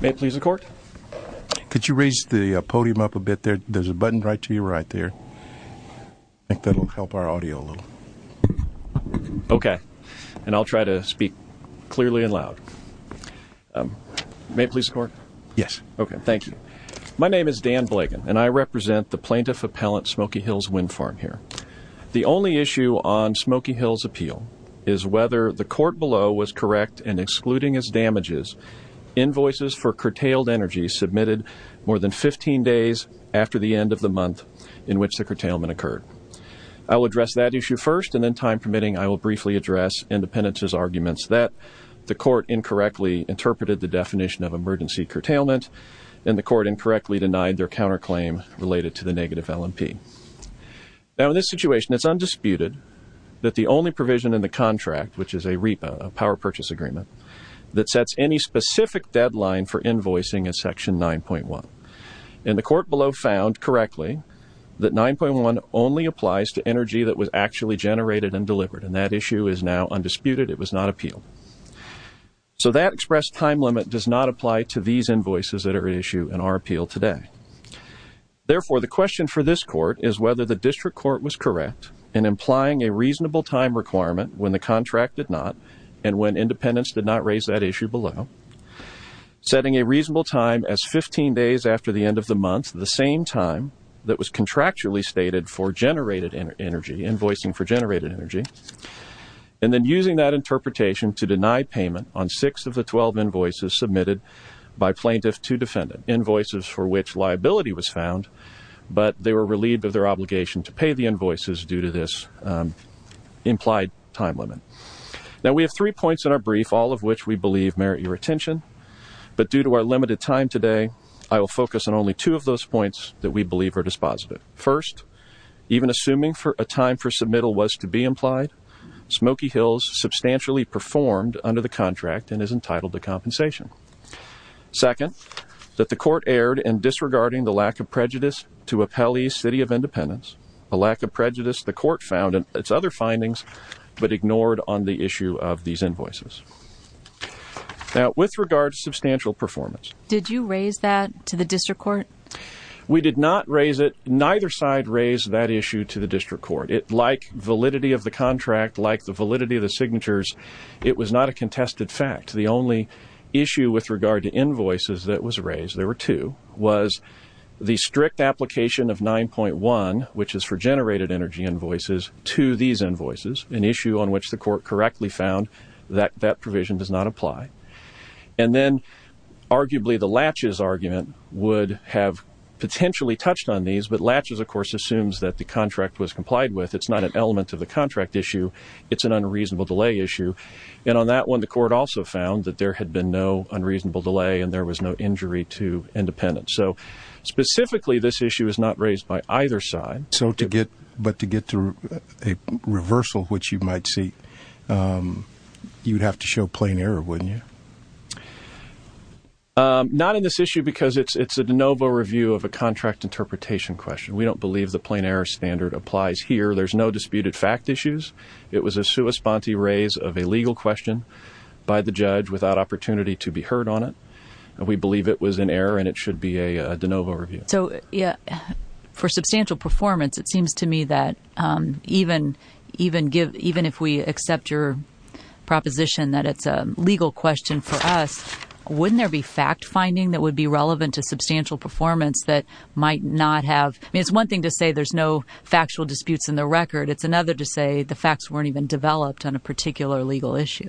May I please have the podium up a bit? There's a button right to your right there. I think that'll help our audio a little. Okay. And I'll try to speak clearly and loud. May I please have the podium up a bit? Yes. Okay. Thank you. My name is Dan Blagan and I represent the Plaintiff Appellant Smoky Hills Wind Farm here. The only issue on Smoky Hills' appeal is whether the court below was correct in excluding as damages invoices for curtailed energy submitted more than 15 days after the end of the month in which the curtailment occurred. I will address that issue first and then, time permitting, I will briefly address Independence's arguments that the court incorrectly interpreted the definition of emergency curtailment and the court incorrectly denied their counterclaim related to the negative L&P. Now, in this situation, it's undisputed that the only provision in the contract, which is a power purchase agreement, that sets any specific deadline for invoicing is section 9.1. And the court below found correctly that 9.1 only applies to energy that was actually generated and delivered and that issue is now undisputed. It was not appealed. So that expressed time limit does not apply to these invoices that are at issue in our appeal today. Therefore, the question for this court is whether the district court was correct in implying a reasonable time requirement when the contract did not and when Independence did not raise that issue below, setting a reasonable time as 15 days after the end of the month, the same time that was contractually stated for generated energy, invoicing for generated energy, and then using that interpretation to deny payment on six of the 12 invoices submitted by plaintiff to defendant, invoices for which liability was found, but they were relieved of their obligation to pay the invoices due to this implied time limit. Now, we have three points in our brief, all of which we believe merit your attention. But due to our limited time today, I will focus on only two of those points that we believe are dispositive. First, even assuming a time for submittal was to be implied, Smoky Hills substantially performed under the contract and is entitled to compensation. Second, that the court erred in disregarding the lack of prejudice to appellee City of Independence, a lack of prejudice the court found in its other findings but ignored on the issue of these invoices. Now, with regard to substantial performance. Did you raise that to the district court? We did not raise it. Neither side raised that issue to the district court. Like validity of the contract, like the validity of the signatures, it was not a contested fact. The only issue with regard to invoices that was raised, there were two, was the strict application of 9.1, which is for generated energy invoices, to these invoices, an issue on which the court correctly found that that provision does not apply. And then, arguably, the Latches argument would have potentially touched on these, but Latches, of course, assumes that the contract was complied with. It's not an element of the contract issue. It's an unreasonable delay issue. And on that one, the court also found that there had been no unreasonable delay and there was no injury to Independence. So, specifically, this issue is not raised by either side. But to get to a reversal, which you might see, you'd have to show plain error, wouldn't you? Not in this issue because it's a de novo review of a contract interpretation question. We don't believe the plain error standard applies here. There's no disputed fact issues. It was a sua sponte raise of a legal question by the judge without opportunity to be heard on it. We believe it was an error and it should be a de novo review. So, for substantial performance, it seems to me that even if we accept your proposition that it's a legal question for us, wouldn't there be fact finding that would be relevant to substantial performance that might not have... I mean, it's one thing to say there's no factual disputes in the record. It's another to say the facts weren't even developed on a particular legal issue.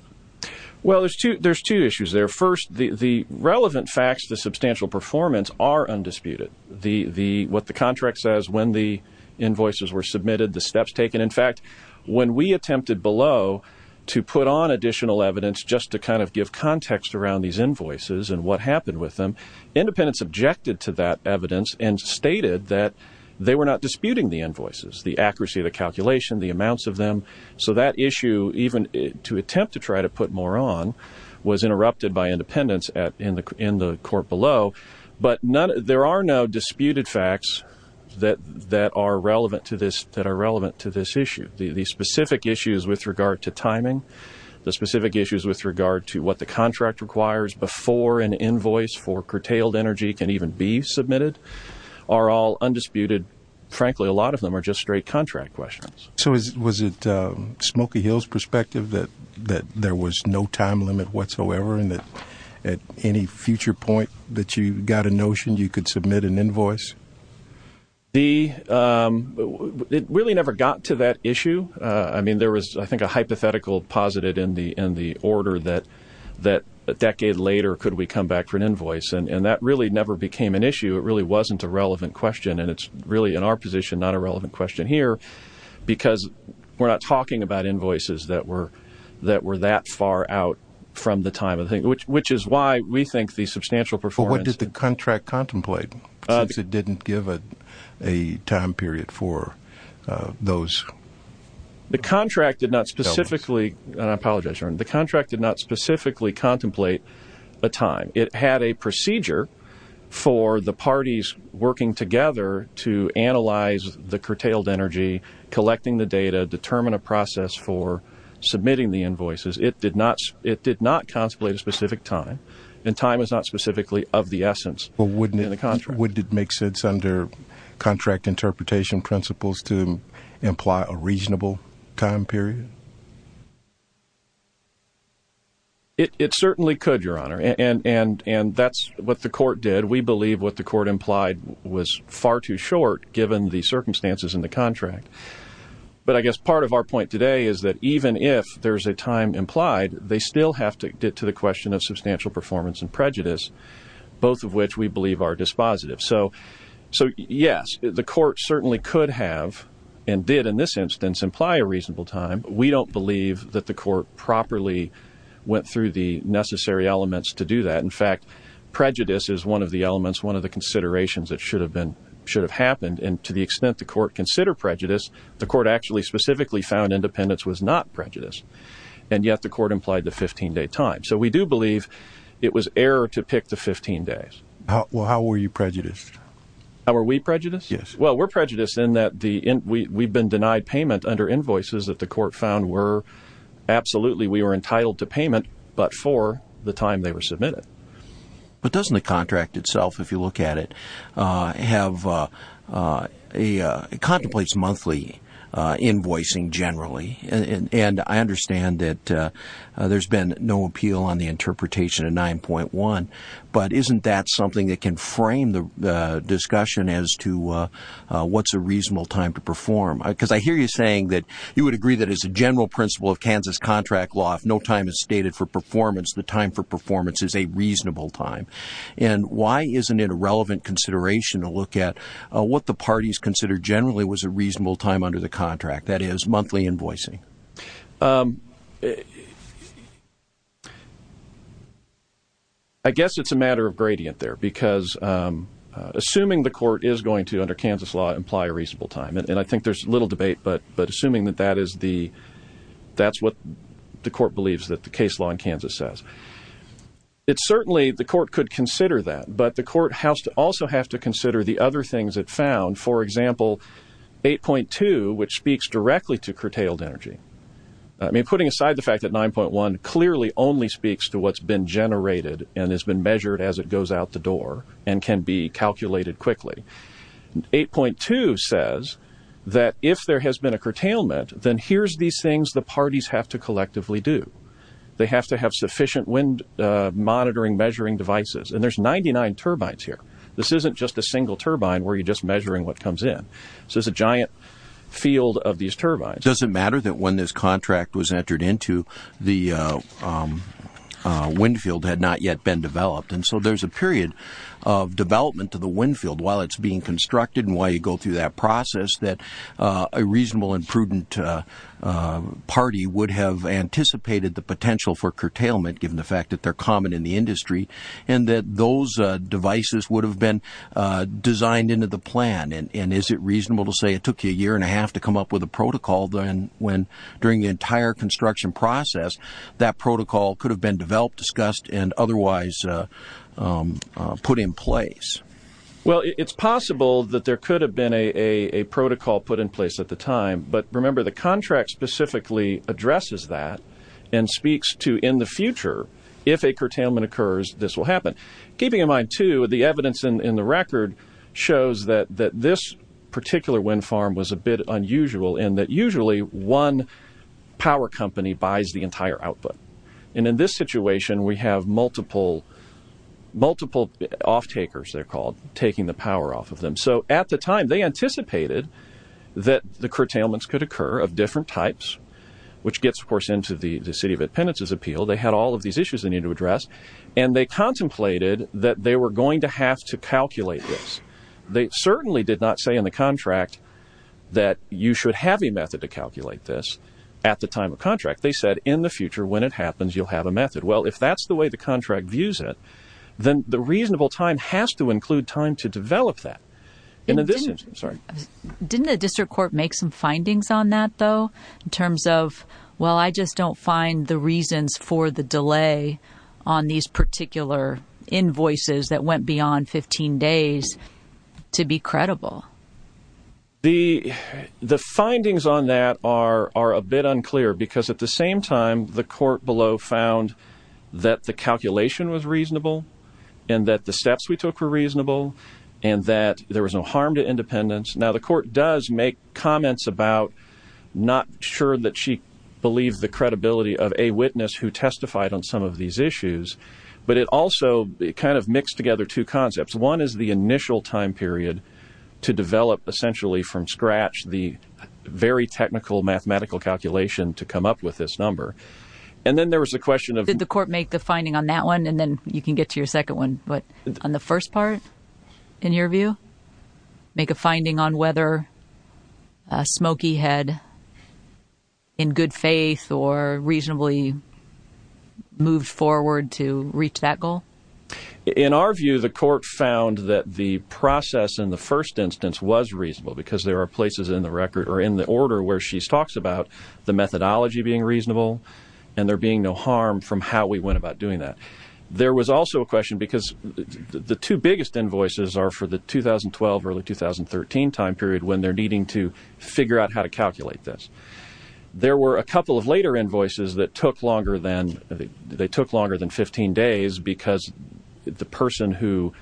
Well, there's two issues there. First, the relevant facts to substantial performance are undisputed. What the contract says, when the invoices were submitted, the steps taken. In fact, when we attempted below to put on additional evidence just to kind of give context around these invoices and what happened with them, Independence objected to that evidence and stated that they were not disputing the invoices, the accuracy of the calculation, the amounts of them. So that issue, even to attempt to try to put more on, was interrupted by Independence in the court below. But there are no disputed facts that are relevant to this issue. The specific issues with regard to timing, the specific issues with regard to what the contract requires before an invoice for curtailed energy can even be submitted, are all undisputed. Frankly, a lot of them are just straight contract questions. So was it Smokey Hill's perspective that there was no time limit whatsoever and that at any future point that you got a notion you could submit an invoice? It really never got to that issue. I mean, there was, I think, a hypothetical posited in the order that a decade later, could we come back for an invoice? And it's really, in our position, not a relevant question here, because we're not talking about invoices that were that far out from the time, which is why we think the substantial performance... But what did the contract contemplate, since it didn't give a time period for those? The contract did not specifically, and I apologize, the contract did not specifically contemplate a time. It had a procedure for the parties working together to analyze the curtailed energy, collecting the data, determine a process for submitting the invoices. It did not contemplate a specific time, and time is not specifically of the essence in the contract. But wouldn't it make sense under contract interpretation principles to imply a reasonable time period? It certainly could, Your Honor, and that's what the court did. We believe what the court implied was far too short, given the circumstances in the contract. But I guess part of our point today is that even if there's a time implied, they still have to get to the question of substantial performance and prejudice, both of which we believe are dispositive. So yes, the court certainly could have, and did in this instance, imply a reasonable time. We don't believe that the court properly went through the necessary elements to do that. In fact, prejudice is one of the elements, one of the considerations that should have happened. And to the extent the court considered prejudice, the court actually specifically found independence was not prejudice. And yet the court implied the 15-day time. So we do believe it was error to pick the 15 days. Well, how were you prejudiced? How were we prejudiced? Yes. Well, we're prejudiced in that we've been denied payment under invoices that the court found were absolutely, we were entitled to payment but for the time they were submitted. But doesn't the contract itself, if you look at it, contemplates monthly invoicing generally? And I understand that there's been no appeal on the interpretation of 9.1. But isn't that something that can frame the discussion as to what's a reasonable time to perform? Because I hear you saying that you would agree that as a general principle of Kansas contract law, if no time is stated for performance, the time for performance is a reasonable time. And why isn't it a relevant consideration to look at what the parties considered generally was a reasonable time under the contract, that is, monthly invoicing? I guess it's a matter of gradient there. Because assuming the court is going to, under Kansas law, imply a reasonable time, and I think there's little debate, but assuming that that is the, that's what the court believes that the case law in Kansas says. It's certainly, the court could consider that. But the court also has to consider the other things it found. For example, 8.2, which speaks directly to curtailed energy. I mean, putting aside the fact that 9.1 clearly only speaks to what's been generated and has been measured as it goes out the door and can be calculated quickly. 8.2 says that if there has been a curtailment, then here's these things the parties have to collectively do. They have to have sufficient wind monitoring, measuring devices. And there's 99 turbines here. This isn't just a single turbine where you're just measuring what comes in. So there's a giant field of these turbines. Does it matter that when this contract was entered into, the wind field had not yet been developed? And so there's a period of development to the wind field while it's being constructed and while you go through that process that a reasonable and prudent party would have anticipated the potential for curtailment, given the fact that they're common in the industry, and that those devices would have been designed into the plan. And is it reasonable to say it took you a year and a half to come up with a protocol when during the entire construction process, that protocol could have been developed, discussed, and otherwise put in place? Well, it's possible that there could have been a protocol put in place at the time. But remember, the contract specifically addresses that and speaks to in the future, if a curtailment occurs, this will happen. Keeping in mind, too, the evidence in the record shows that this particular wind farm was a bit unusual in that usually one power company buys the entire output. And in this situation, we have multiple off-takers, they're called, taking the power off of them. So at the time, they anticipated that the curtailments could occur of different types, which gets, of course, into the City of Independence's appeal. They had all of these issues they needed to address, and they contemplated that they were going to have to calculate this. They certainly did not say in the contract that you should have a method to calculate this at the time of contract. They said, in the future, when it happens, you'll have a method. Well, if that's the way the contract views it, then the reasonable time has to include time to develop that. Didn't the district court make some findings on that, though, in terms of, well, I just don't find the reasons for the delay on these particular invoices that went beyond 15 days to be credible? The findings on that are a bit unclear because, at the same time, the court below found that the calculation was reasonable and that the steps we took were reasonable and that there was no harm to independence. Now, the court does make comments about not sure that she believed the credibility of a witness who testified on some of these issues, but it also kind of mixed together two concepts. One is the initial time period to develop, essentially from scratch, the very technical mathematical calculation to come up with this number. And then there was a question of... Did the court make the finding on that one? And then you can get to your second one. But on the first part, in your view, make a finding on whether Smokey had in good faith or reasonably moved forward to reach that goal? In our view, the court found that the process in the first instance was reasonable because there are places in the record or in the order where she talks about the methodology being reasonable and there being no harm from how we went about doing that. There was also a question because the two biggest invoices are for the 2012-early 2013 time period when they're needing to figure out how to calculate this. There were a couple of later invoices that took longer than 15 days because the person who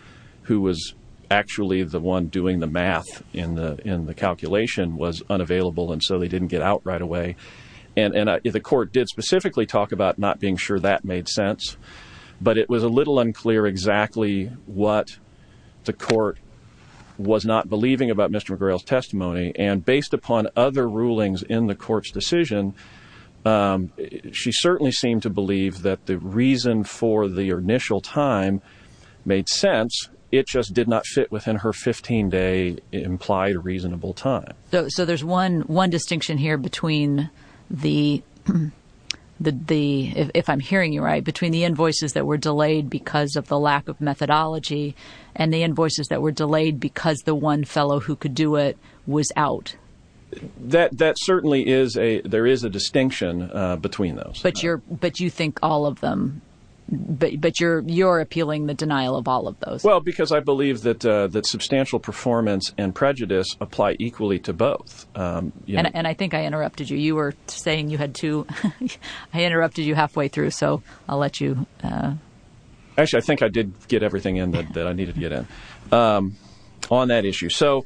was actually the one doing the math in the calculation was unavailable and so they didn't get out right away. And the court did specifically talk about not being sure that made sense, but it was a little unclear exactly what the court was not believing about Mr. McGrail's testimony. And based upon other rulings in the court's decision, she certainly seemed to believe that the reason for the initial time made sense. It just did not fit within her 15-day implied reasonable time. So there's one distinction here between the, if I'm hearing you right, between the invoices that were delayed because of the lack of methodology and the invoices that were delayed because the one fellow who could do it was out. That certainly is a, there is a distinction between those. But you think all of them, but you're appealing the denial of all of those. Well, because I believe that substantial performance and prejudice apply equally to both. And I think I interrupted you. You were saying you had two. I interrupted you halfway through, so I'll let you. Actually, I think I did get everything in that I needed to get in on that issue. So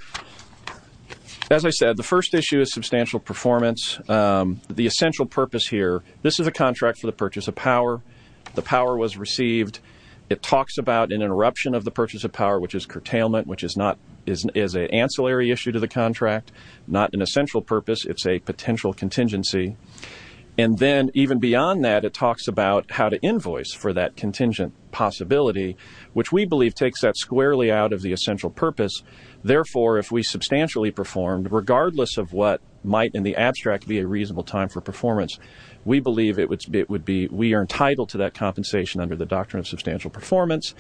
as I said, the first issue is substantial performance. The essential purpose here, this is a contract for the purchase of power. The power was received. It talks about an interruption of the purchase of power, which is curtailment, which is an ancillary issue to the contract, not an essential purpose. It's a potential contingency. And then even beyond that, it talks about how to invoice for that contingent possibility, which we believe takes that squarely out of the essential purpose. Therefore, if we substantially performed, regardless of what might in the abstract be a reasonable time for performance, we believe we are entitled to that compensation under the doctrine of substantial performance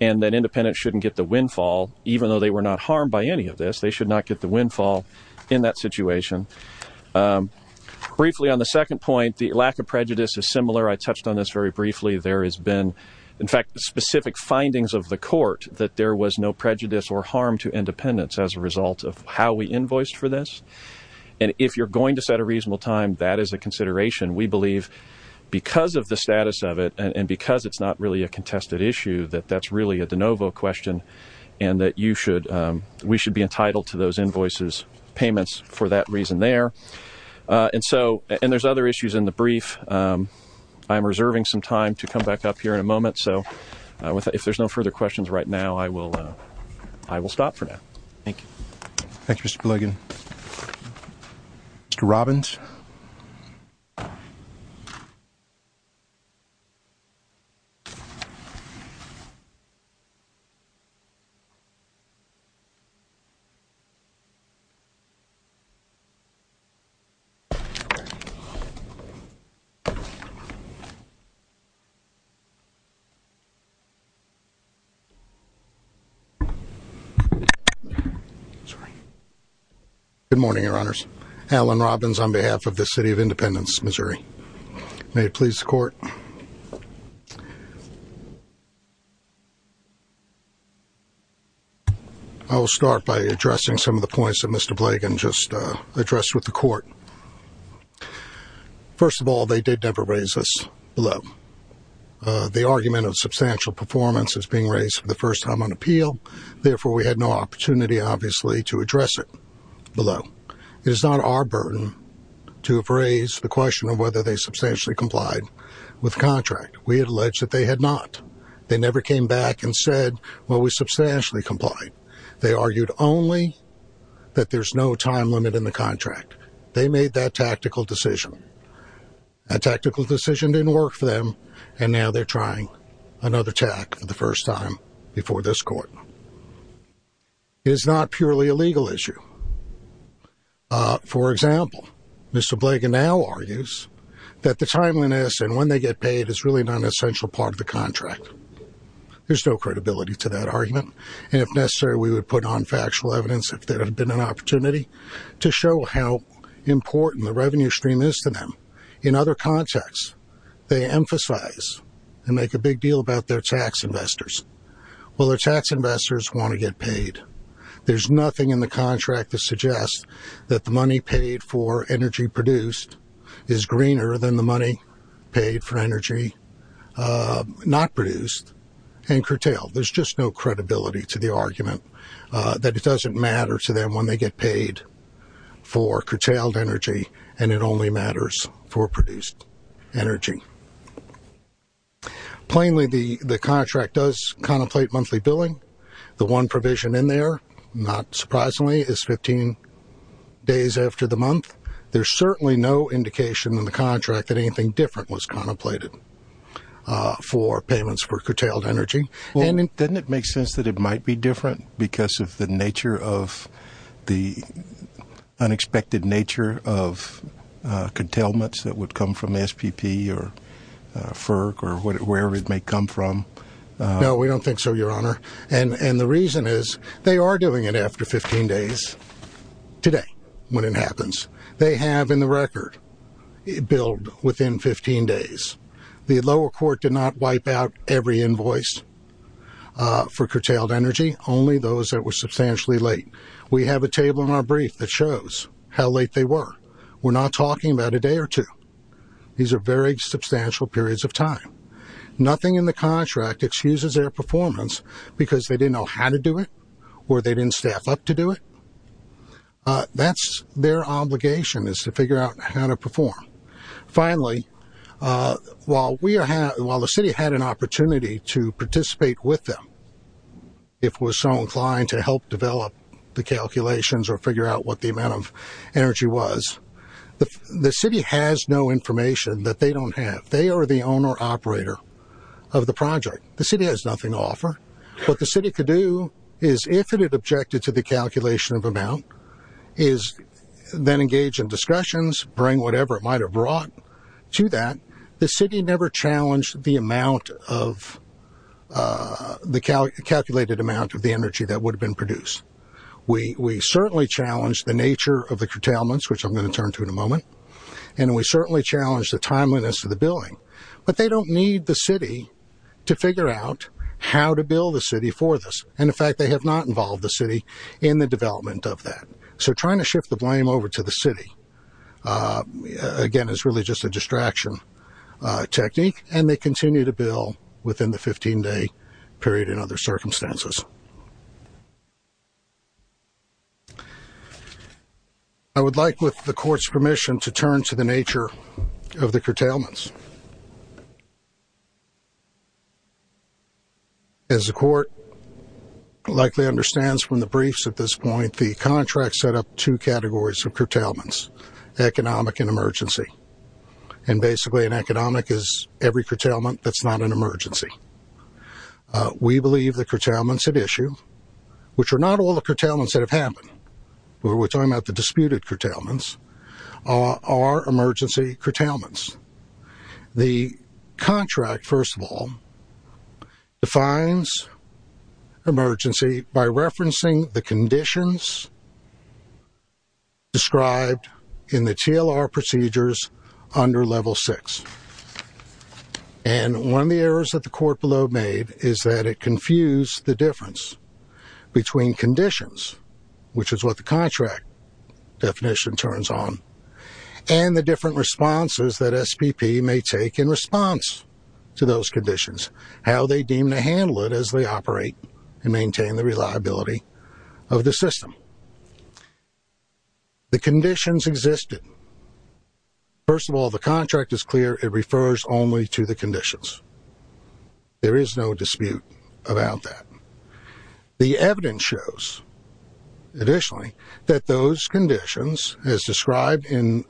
and that independents shouldn't get the windfall, even though they were not harmed by any of this. They should not get the windfall in that situation. Briefly, on the second point, the lack of prejudice is similar. I touched on this very briefly. There has been, in fact, specific findings of the court that there was no prejudice or harm to independents as a result of how we invoiced for this. And if you're going to set a reasonable time, that is a consideration. We believe because of the status of it and because it's not really a contested issue, that that's really a de novo question and that we should be entitled to those invoices, payments for that reason there. And there's other issues in the brief. I'm reserving some time to come back up here in a moment. So if there's no further questions right now, I will stop for now. Thank you. Thank you, Mr. Blagan. Mr. Robbins. Good morning, Your Honors. Alan Robbins on behalf of the city of Independence, Missouri. May it please the court. I will start by addressing some of the points that Mr. Blagan just addressed with the court. First of all, they did never raise us below. The argument of substantial performance is being raised for the first time on appeal. Therefore, we had no opportunity, obviously, to address it below. It is not our burden to have raised the question of whether they substantially complied with the contract. We had alleged that they had not. They never came back and said, well, we substantially complied. They argued only that there's no time limit in the contract. They made that tactical decision. That tactical decision didn't work for them, and now they're trying another tack for the first time before this court. It is not purely a legal issue. For example, Mr. Blagan now argues that the timeliness and when they get paid is really not an essential part of the contract. There's no credibility to that argument. And if necessary, we would put on factual evidence if there had been an opportunity to show how important the revenue stream is to them. In other contexts, they emphasize and make a big deal about their tax investors. Well, their tax investors want to get paid. There's nothing in the contract that suggests that the money paid for energy produced is greener than the money paid for energy not produced and curtailed. There's just no credibility to the argument that it doesn't matter to them when they get paid for curtailed energy and it only matters for produced energy. Plainly, the contract does contemplate monthly billing. The one provision in there, not surprisingly, is 15 days after the month. There's certainly no indication in the contract that anything different was contemplated for payments for curtailed energy. Well, doesn't it make sense that it might be different because of the nature of the unexpected nature of curtailments that would come from SPP or FERC or wherever it may come from? No, we don't think so, Your Honor. And the reason is they are doing it after 15 days today when it happens. They have in the record billed within 15 days. The lower court did not wipe out every invoice for curtailed energy, only those that were substantially late. We have a table in our brief that shows how late they were. We're not talking about a day or two. These are very substantial periods of time. Nothing in the contract excuses their performance because they didn't know how to do it or they didn't staff up to do it. Finally, while the city had an opportunity to participate with them, if it was so inclined to help develop the calculations or figure out what the amount of energy was, the city has no information that they don't have. They are the owner-operator of the project. The city has nothing to offer. What the city could do is, if it had objected to the calculation of amount, is then engage in discussions, bring whatever it might have brought to that. The city never challenged the amount of the calculated amount of the energy that would have been produced. We certainly challenged the nature of the curtailments, which I'm going to turn to in a moment, and we certainly challenged the timeliness of the billing. But they don't need the city to figure out how to bill the city for this. And, in fact, they have not involved the city in the development of that. So trying to shift the blame over to the city, again, is really just a distraction technique, and they continue to bill within the 15-day period and other circumstances. I would like, with the court's permission, to turn to the nature of the curtailments. As the court likely understands from the briefs at this point, the contract set up two categories of curtailments, economic and emergency. And, basically, an economic is every curtailment that's not an emergency. We believe the curtailments at issue, which are not all the curtailments that have happened, but we're talking about the disputed curtailments, are emergency curtailments. The contract, first of all, defines emergency by referencing the conditions described in the TLR procedures under Level 6. And one of the errors that the court below made is that it confused the difference between conditions, which is what the contract definition turns on, and the different responses that SPP may take in response to those conditions, how they deem to handle it as they operate and maintain the reliability of the system. The conditions existed. First of all, the contract is clear. It refers only to the conditions. There is no dispute about that. The evidence shows, additionally, that those conditions, as described in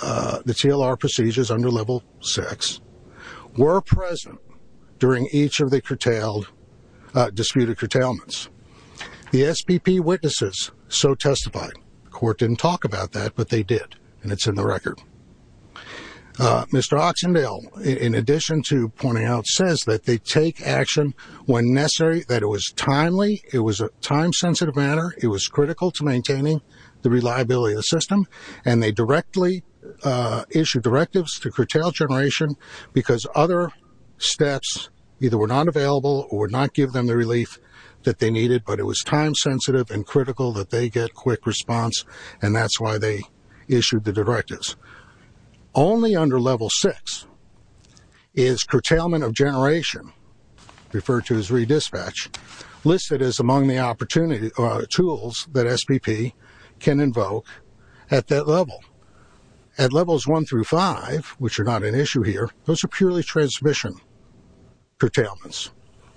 the TLR procedures under Level 6, were present during each of the disputed curtailments. The SPP witnesses so testify. The court didn't talk about that, but they did, and it's in the record. Mr. Oxendale, in addition to pointing out, says that they take action when necessary, that it was timely, it was a time-sensitive manner, it was critical to maintaining the reliability of the system, and they directly issued directives to curtail generation because other steps either were not available or would not give them the relief that they needed, but it was time-sensitive and critical that they get quick response, and that's why they issued the directives. Only under Level 6 is curtailment of generation, referred to as re-dispatch, listed as among the tools that SPP can invoke at that level. At Levels 1 through 5, which are not an issue here, those are purely transmission curtailments.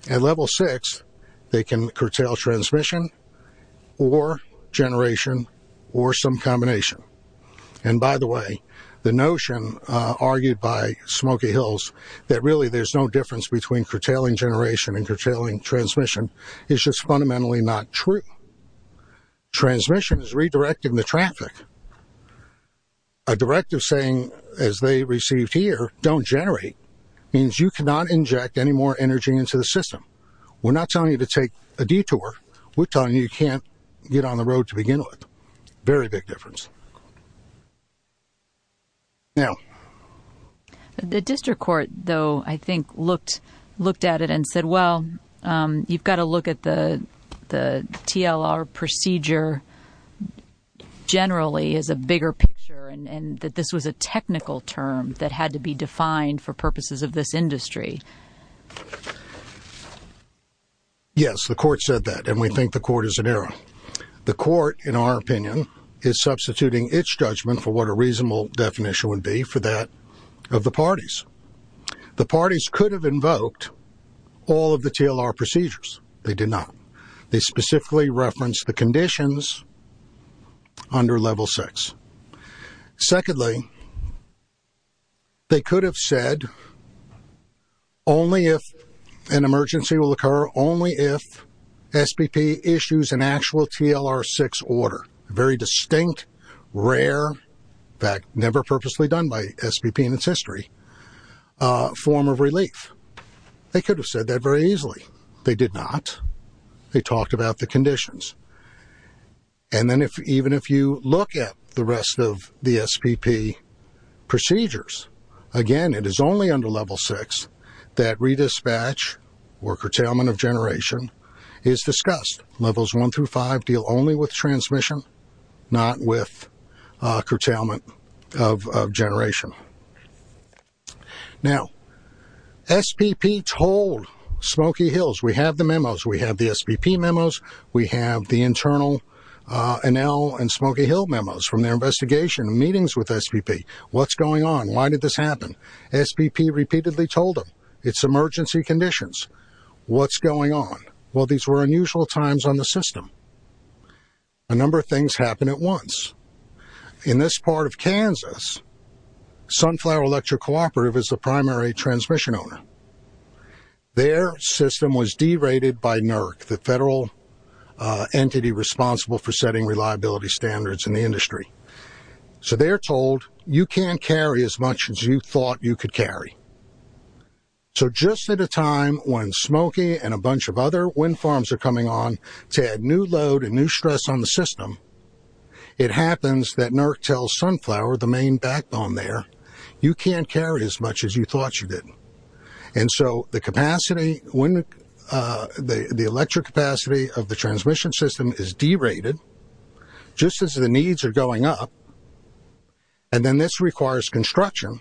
At Level 6, they can curtail transmission or generation or some combination. And by the way, the notion argued by Smoky Hills that really there's no difference between curtailing generation and curtailing transmission is just fundamentally not true. Transmission is redirecting the traffic. A directive saying, as they received here, don't generate, means you cannot inject any more energy into the system. We're not telling you to take a detour. We're telling you you can't get on the road to begin with. Very big difference. Now... The district court, though, I think looked at it and said, well, you've got to look at the TLR procedure generally as a bigger picture and that this was a technical term that had to be defined for purposes of this industry. Yes, the court said that, and we think the court is in error. The court, in our opinion, is substituting its judgment for what a reasonable definition would be for that of the parties. The parties could have invoked all of the TLR procedures. They did not. They specifically referenced the conditions under Level 6. Secondly, they could have said only if an emergency will occur, only if SPP issues an actual TLR 6 order, a very distinct, rare, in fact, never purposely done by SPP in its history, form of relief. They could have said that very easily. They did not. They talked about the conditions. And then even if you look at the rest of the SPP procedures, again, it is only under Level 6 that redispatch or curtailment of generation is discussed. Levels 1 through 5 deal only with transmission, not with curtailment of generation. Now, SPP told Smoky Hills, we have the memos, we have the SPP memos, we have the internal Enel and Smoky Hill memos from their investigation and meetings with SPP. What's going on? Why did this happen? SPP repeatedly told them, it's emergency conditions. What's going on? Well, these were unusual times on the system. A number of things happened at once. In this part of Kansas, Sunflower Electric Cooperative is the primary transmission owner. Their system was derated by NERC, the federal entity responsible for setting reliability standards in the industry. So they're told, you can't carry as much as you thought you could carry. So just at a time when Smoky and a bunch of other wind farms are coming on to add new load and new stress on the system, it happens that NERC tells Sunflower, the main backbone there, you can't carry as much as you thought you did. And so the capacity, the electric capacity of the transmission system is derated just as the needs are going up. And then this requires construction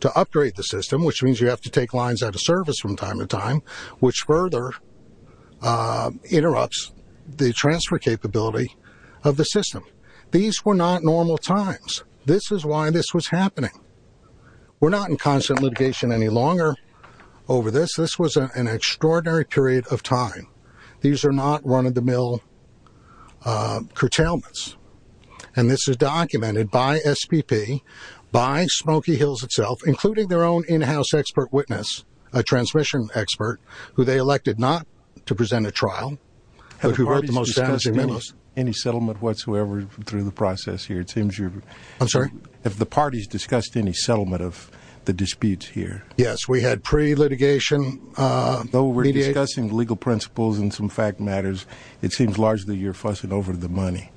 to upgrade the system, which means you have to take lines out of service from time to time, which further interrupts the transfer capability of the system. These were not normal times. This is why this was happening. We're not in constant litigation any longer over this. This was an extraordinary period of time. These are not run-of-the-mill curtailments. And this is documented by SPP, by Smoky Hills itself, including their own in-house expert witness, a transmission expert, who they elected not to present a trial, but who wrote the most damaging memos. Any settlement whatsoever through the process here? I'm sorry? Have the parties discussed any settlement of the disputes here? Yes, we had pre-litigation. Though we're discussing legal principles and some fact matters, it seems largely you're fussing over the money.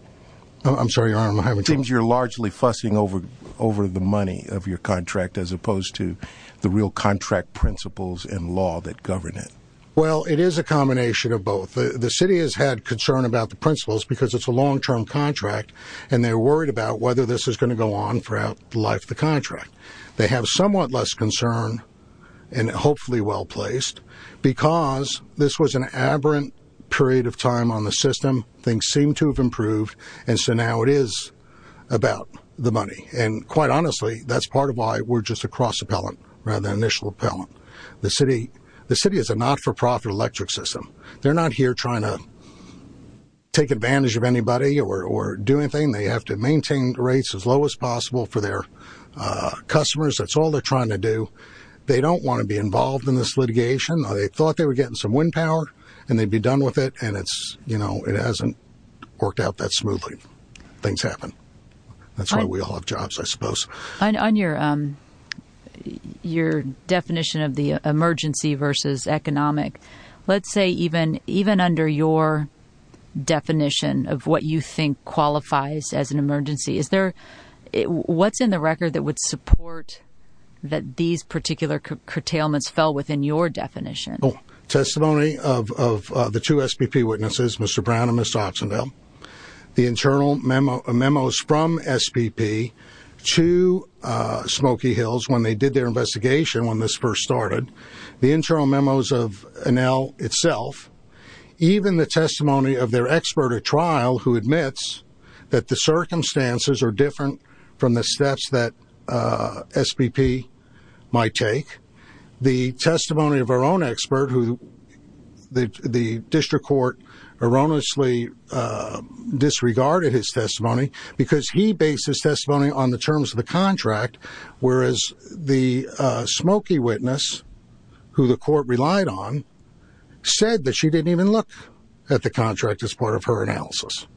I'm sorry, Your Honor. It seems you're largely fussing over the money of your contract as opposed to the real contract principles and law that govern it. Well, it is a combination of both. The city has had concern about the principles because it's a long-term contract, and they're worried about whether this is going to go on throughout the life of the contract. They have somewhat less concern, and hopefully well-placed, because this was an aberrant period of time on the system. Things seem to have improved, and so now it is about the money. And quite honestly, that's part of why we're just a cross-appellant rather than an initial appellant. The city is a not-for-profit electric system. They're not here trying to take advantage of anybody or do anything. They have to maintain rates as low as possible for their customers. That's all they're trying to do. They don't want to be involved in this litigation. They thought they were getting some wind power and they'd be done with it, and it hasn't worked out that smoothly. That's why we all have jobs, I suppose. On your definition of the emergency versus economic, let's say even under your definition of what you think qualifies as an emergency, what's in the record that would support that these particular curtailments fell within your definition? Testimony of the two SPP witnesses, Mr. Brown and Ms. Oxendale, the internal memos from SPP to Smoky Hills when they did their investigation when this first started, the internal memos of Enel itself, even the testimony of their expert at trial who admits that the circumstances are different from the steps that SPP might take, the testimony of our own expert who the district court erroneously disregarded his testimony because he based his testimony on the terms of the contract, whereas the Smoky witness, who the court relied on, said that she didn't even look at the contract as part of her analysis.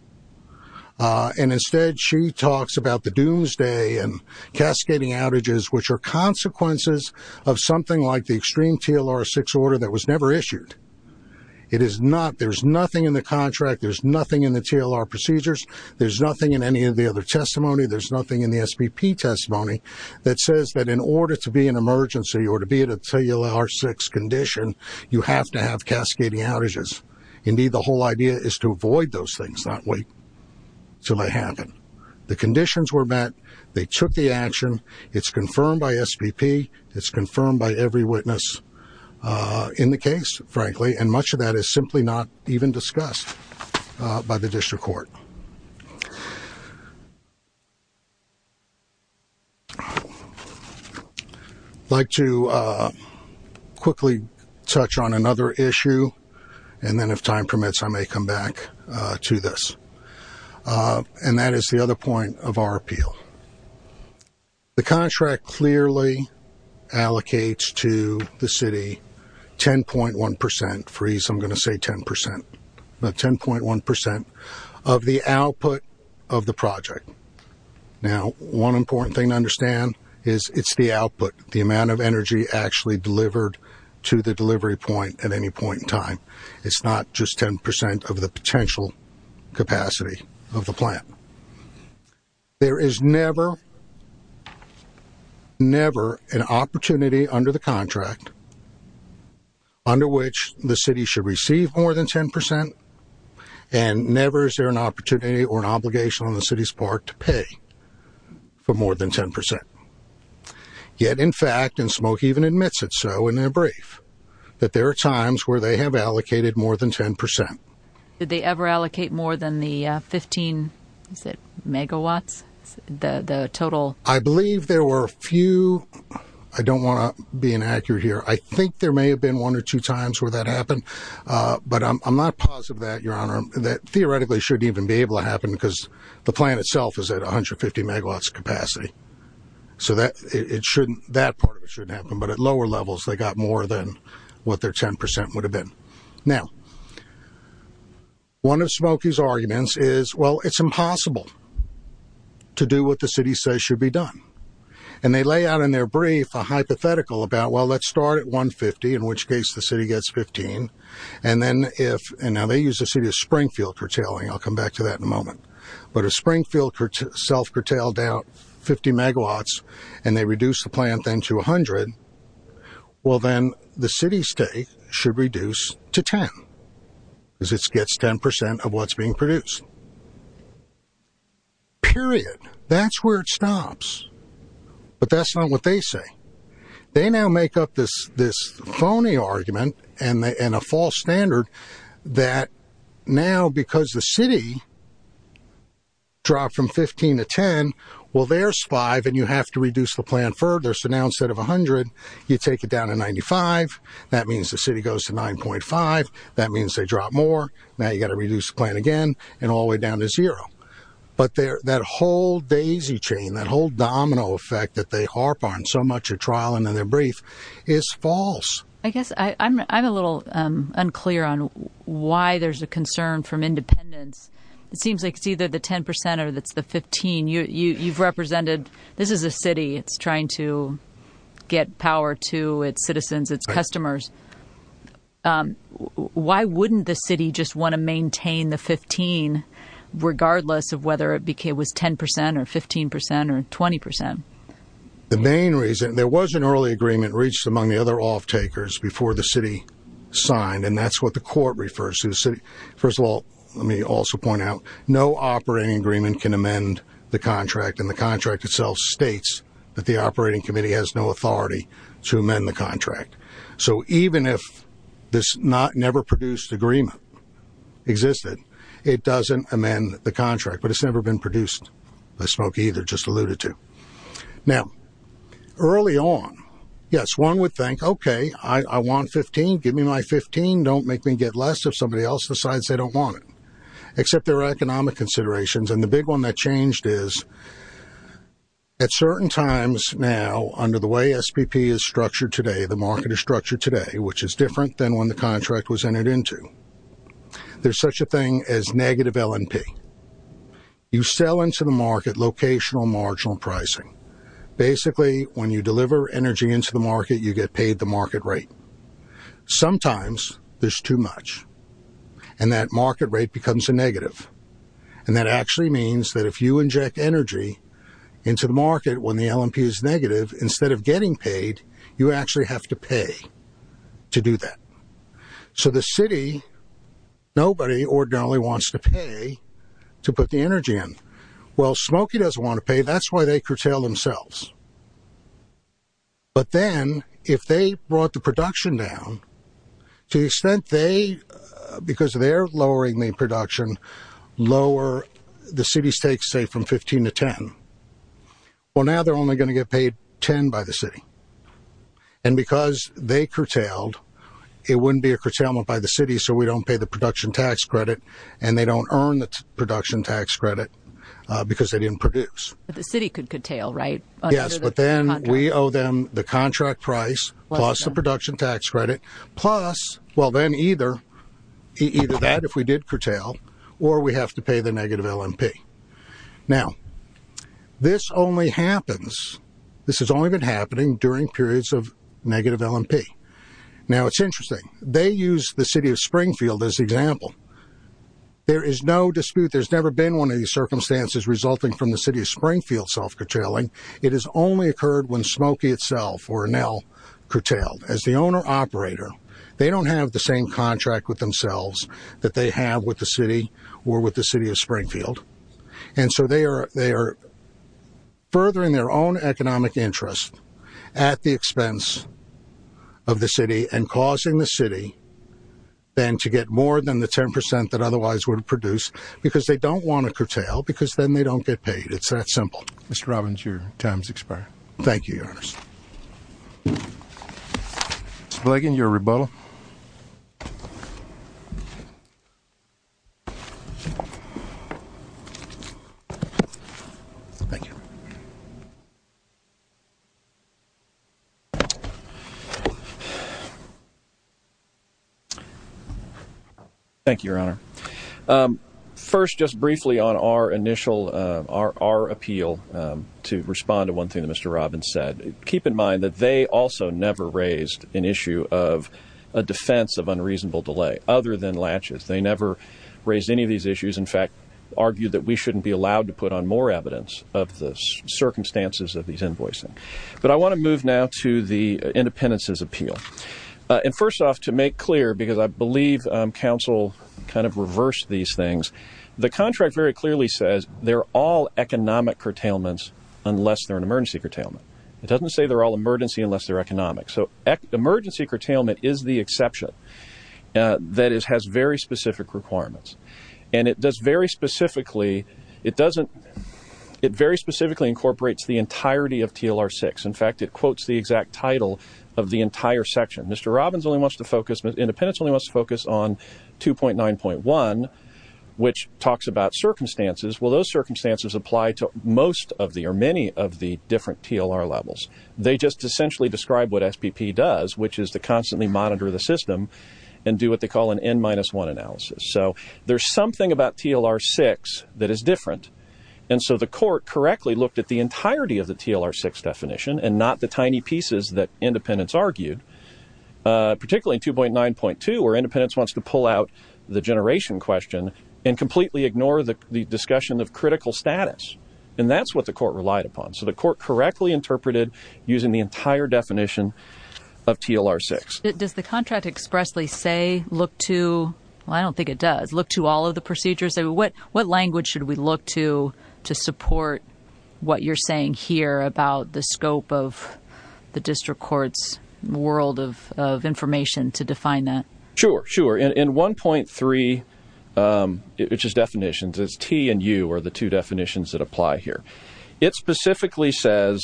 Instead, she talks about the doomsday and cascading outages, which are consequences of something like the extreme TLR6 order that was never issued. There's nothing in the contract. There's nothing in the TLR procedures. There's nothing in any of the other testimony. There's nothing in the SPP testimony that says that in order to be an emergency or to be in a TLR6 condition, you have to have cascading outages. Indeed, the whole idea is to avoid those things, not wait until they happen. The conditions were met. They took the action. It's confirmed by SPP. It's confirmed by every witness in the case, frankly, and much of that is simply not even discussed by the district court. I'd like to quickly touch on another issue, and then if time permits, I may come back to this, and that is the other point of our appeal. The contract clearly allocates to the city 10.1 percent, and if I freeze, I'm going to say 10 percent, 10.1 percent of the output of the project. Now, one important thing to understand is it's the output, the amount of energy actually delivered to the delivery point at any point in time. It's not just 10 percent of the potential capacity of the plant. There is never, never an opportunity under the contract under which the city should receive more than 10 percent, and never is there an opportunity or an obligation on the city's part to pay for more than 10 percent. Yet, in fact, and Smoke even admits it so in their brief, that there are times where they have allocated more than 10 percent. Did they ever allocate more than the 15 megawatts, the total? I believe there were a few. I don't want to be inaccurate here. I think there may have been one or two times where that happened, but I'm not positive of that, Your Honor. That theoretically shouldn't even be able to happen because the plant itself is at 150 megawatts capacity, so that part shouldn't happen, but at lower levels, they got more than what their 10 percent would have been. Now, one of Smokey's arguments is, well, it's impossible to do what the city says should be done, and they lay out in their brief a hypothetical about, well, let's start at 150, in which case the city gets 15, and then if, and now they use the city of Springfield curtailing, I'll come back to that in a moment, but if Springfield self-curtailed out 50 megawatts and they reduce the plant then to 100, well, then the city state should reduce to 10 because it gets 10 percent of what's being produced. Period. That's where it stops, but that's not what they say. They now make up this phony argument and a false standard that now because the city dropped from 15 to 10, well, there's five and you have to reduce the plant further, so now instead of 100, you take it down to 95. That means the city goes to 9.5. That means they drop more. Now you've got to reduce the plant again and all the way down to zero. But that whole daisy chain, that whole domino effect that they harp on so much at trial and in their brief is false. I guess I'm a little unclear on why there's a concern from independents. It seems like it's either the 10 percent or it's the 15. You've represented, this is a city. It's trying to get power to its citizens, its customers. Why wouldn't the city just want to maintain the 15 regardless of whether it was 10 percent or 15 percent or 20 percent? The main reason, there was an early agreement reached among the other offtakers before the city signed, and that's what the court refers to. First of all, let me also point out, no operating agreement can amend the contract, and the contract itself states that the operating committee has no authority to amend the contract. So even if this never produced agreement existed, it doesn't amend the contract. But it's never been produced by Smoke either, just alluded to. Now, early on, yes, one would think, okay, I want 15. Give me my 15. Don't make me get less if somebody else decides they don't want it, except there are economic considerations, and the big one that changed is at certain times now under the way SPP is structured today, the market is structured today, which is different than when the contract was entered into. There's such a thing as negative LNP. You sell into the market locational marginal pricing. Basically, when you deliver energy into the market, you get paid the market rate. Sometimes there's too much, and that market rate becomes a negative, and that actually means that if you inject energy into the market when the LNP is negative, instead of getting paid, you actually have to pay to do that. So the city, nobody ordinarily wants to pay to put the energy in. Well, Smokey doesn't want to pay. That's why they curtail themselves. But then if they brought the production down, to the extent they, because they're lowering the production, lower the city's take, say, from 15 to 10, well, now they're only going to get paid 10 by the city. And because they curtailed, it wouldn't be a curtailment by the city, so we don't pay the production tax credit, and they don't earn the production tax credit because they didn't produce. But the city could curtail, right? Yes, but then we owe them the contract price, plus the production tax credit, plus, well, then either that if we did curtail, or we have to pay the negative LNP. Now, this only happens, this has only been happening during periods of negative LNP. Now, it's interesting. They use the city of Springfield as an example. There is no dispute, there's never been one of these circumstances resulting from the city of Springfield self-curtailing. It has only occurred when Smokey itself, or Enel, curtailed. As the owner-operator, they don't have the same contract with themselves that they have with the city or with the city of Springfield. And so they are furthering their own economic interest at the expense of the city, and causing the city then to get more than the 10% that otherwise would have produced, because they don't want to curtail, because then they don't get paid. It's that simple. Mr. Robbins, your time has expired. Thank you, Your Honor. Mr. Blagan, your rebuttal. Thank you. Thank you, Your Honor. First, just briefly on our initial, our appeal to respond to one thing that Mr. Robbins said. Keep in mind that they also never raised an issue of a defense of unreasonable delay, other than latches. They never raised any of these issues. In fact, argued that we shouldn't be allowed to put on more evidence of the circumstances of these invoicing. But I want to move now to the independents' appeal. And first off, to make clear, because I believe counsel kind of reversed these things, the contract very clearly says they're all economic curtailments unless they're an emergency curtailment. It doesn't say they're all emergency unless they're economic. So emergency curtailment is the exception that has very specific requirements. And it does very specifically, it doesn't, it very specifically incorporates the entirety of TLR 6. In fact, it quotes the exact title of the entire section. Mr. Robbins only wants to focus, independents only wants to focus on 2.9.1, which talks about circumstances. Well, those circumstances apply to most of the, or many of the different TLR levels. They just essentially describe what SPP does, which is to constantly monitor the system and do what they call an N-1 analysis. So there's something about TLR 6 that is different. And so the court correctly looked at the entirety of the TLR 6 definition and not the tiny pieces that independents argued, particularly in 2.9.2 where independents wants to pull out the generation question and completely ignore the discussion of critical status. And that's what the court relied upon. So the court correctly interpreted using the entire definition of TLR 6. Does the contract expressly say, look to, well, I don't think it does, look to all of the procedures. What language should we look to to support what you're saying here about the scope of the district court's world of information to define that? Sure, sure. In 1.3, it's just definitions. It's T and U are the two definitions that apply here. It specifically says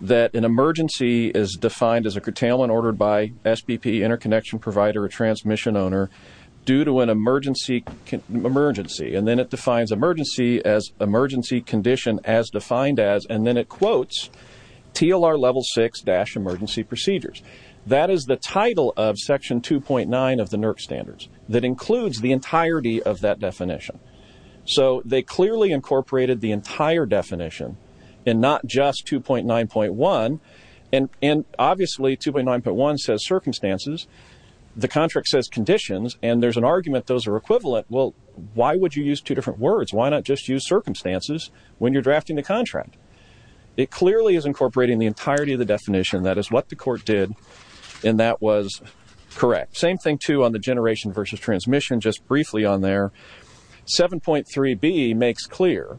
that an emergency is defined as a curtailment ordered by SPP, interconnection provider, or transmission owner due to an emergency. And then it defines emergency as emergency condition as defined as, and then it quotes TLR level 6-emergency procedures. That is the title of section 2.9 of the NERC standards that includes the entirety of that definition. So they clearly incorporated the entire definition and not just 2.9.1. And obviously 2.9.1 says circumstances. The contract says conditions, and there's an argument those are equivalent. Well, why would you use two different words? Why not just use circumstances when you're drafting the contract? It clearly is incorporating the entirety of the definition. That is what the court did, and that was correct. Same thing, too, on the generation versus transmission, just briefly on there. 7.3b makes clear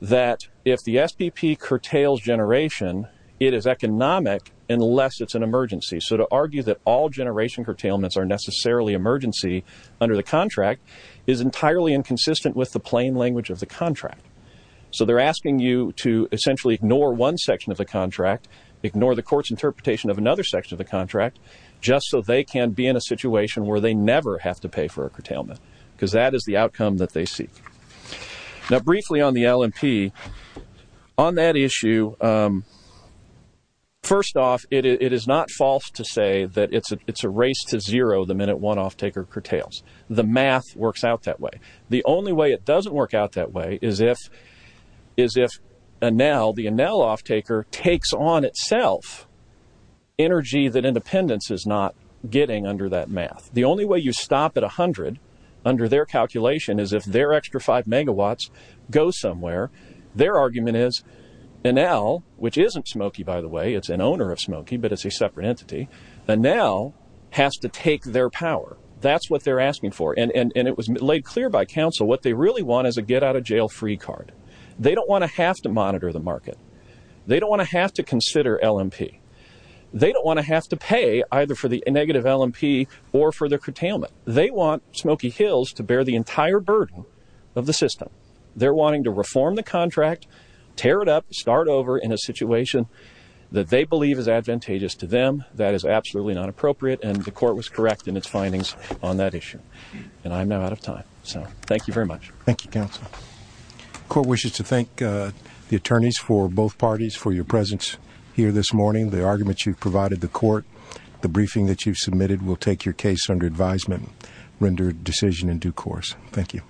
that if the SPP curtails generation, it is economic unless it's an emergency. So to argue that all generation curtailments are necessarily emergency under the contract is entirely inconsistent with the plain language of the contract. So they're asking you to essentially ignore one section of the contract, ignore the court's interpretation of another section of the contract, just so they can be in a situation where they never have to pay for a curtailment because that is the outcome that they seek. Now, briefly on the LMP, on that issue, first off, it is not false to say that it's a race to zero the minute one offtaker curtails. The math works out that way. The only way it doesn't work out that way is if Enel, the Enel offtaker, takes on itself energy that Independence is not getting under that math. The only way you stop at 100 under their calculation is if their extra 5 megawatts goes somewhere. Their argument is Enel, which isn't Smoky, by the way, it's an owner of Smoky, but it's a separate entity, Enel has to take their power. That's what they're asking for, and it was laid clear by counsel what they really want is a get-out-of-jail-free card. They don't want to have to monitor the market. They don't want to have to consider LMP. They don't want to have to pay either for the negative LMP or for the curtailment. They want Smoky Hills to bear the entire burden of the system. They're wanting to reform the contract, tear it up, start over in a situation that they believe is advantageous to them, that is absolutely not appropriate, and the court was correct in its findings on that issue. And I'm now out of time, so thank you very much. Thank you, counsel. The court wishes to thank the attorneys for both parties for your presence here this morning. The arguments you've provided the court, the briefing that you've submitted will take your case under advisement and render a decision in due course. Thank you.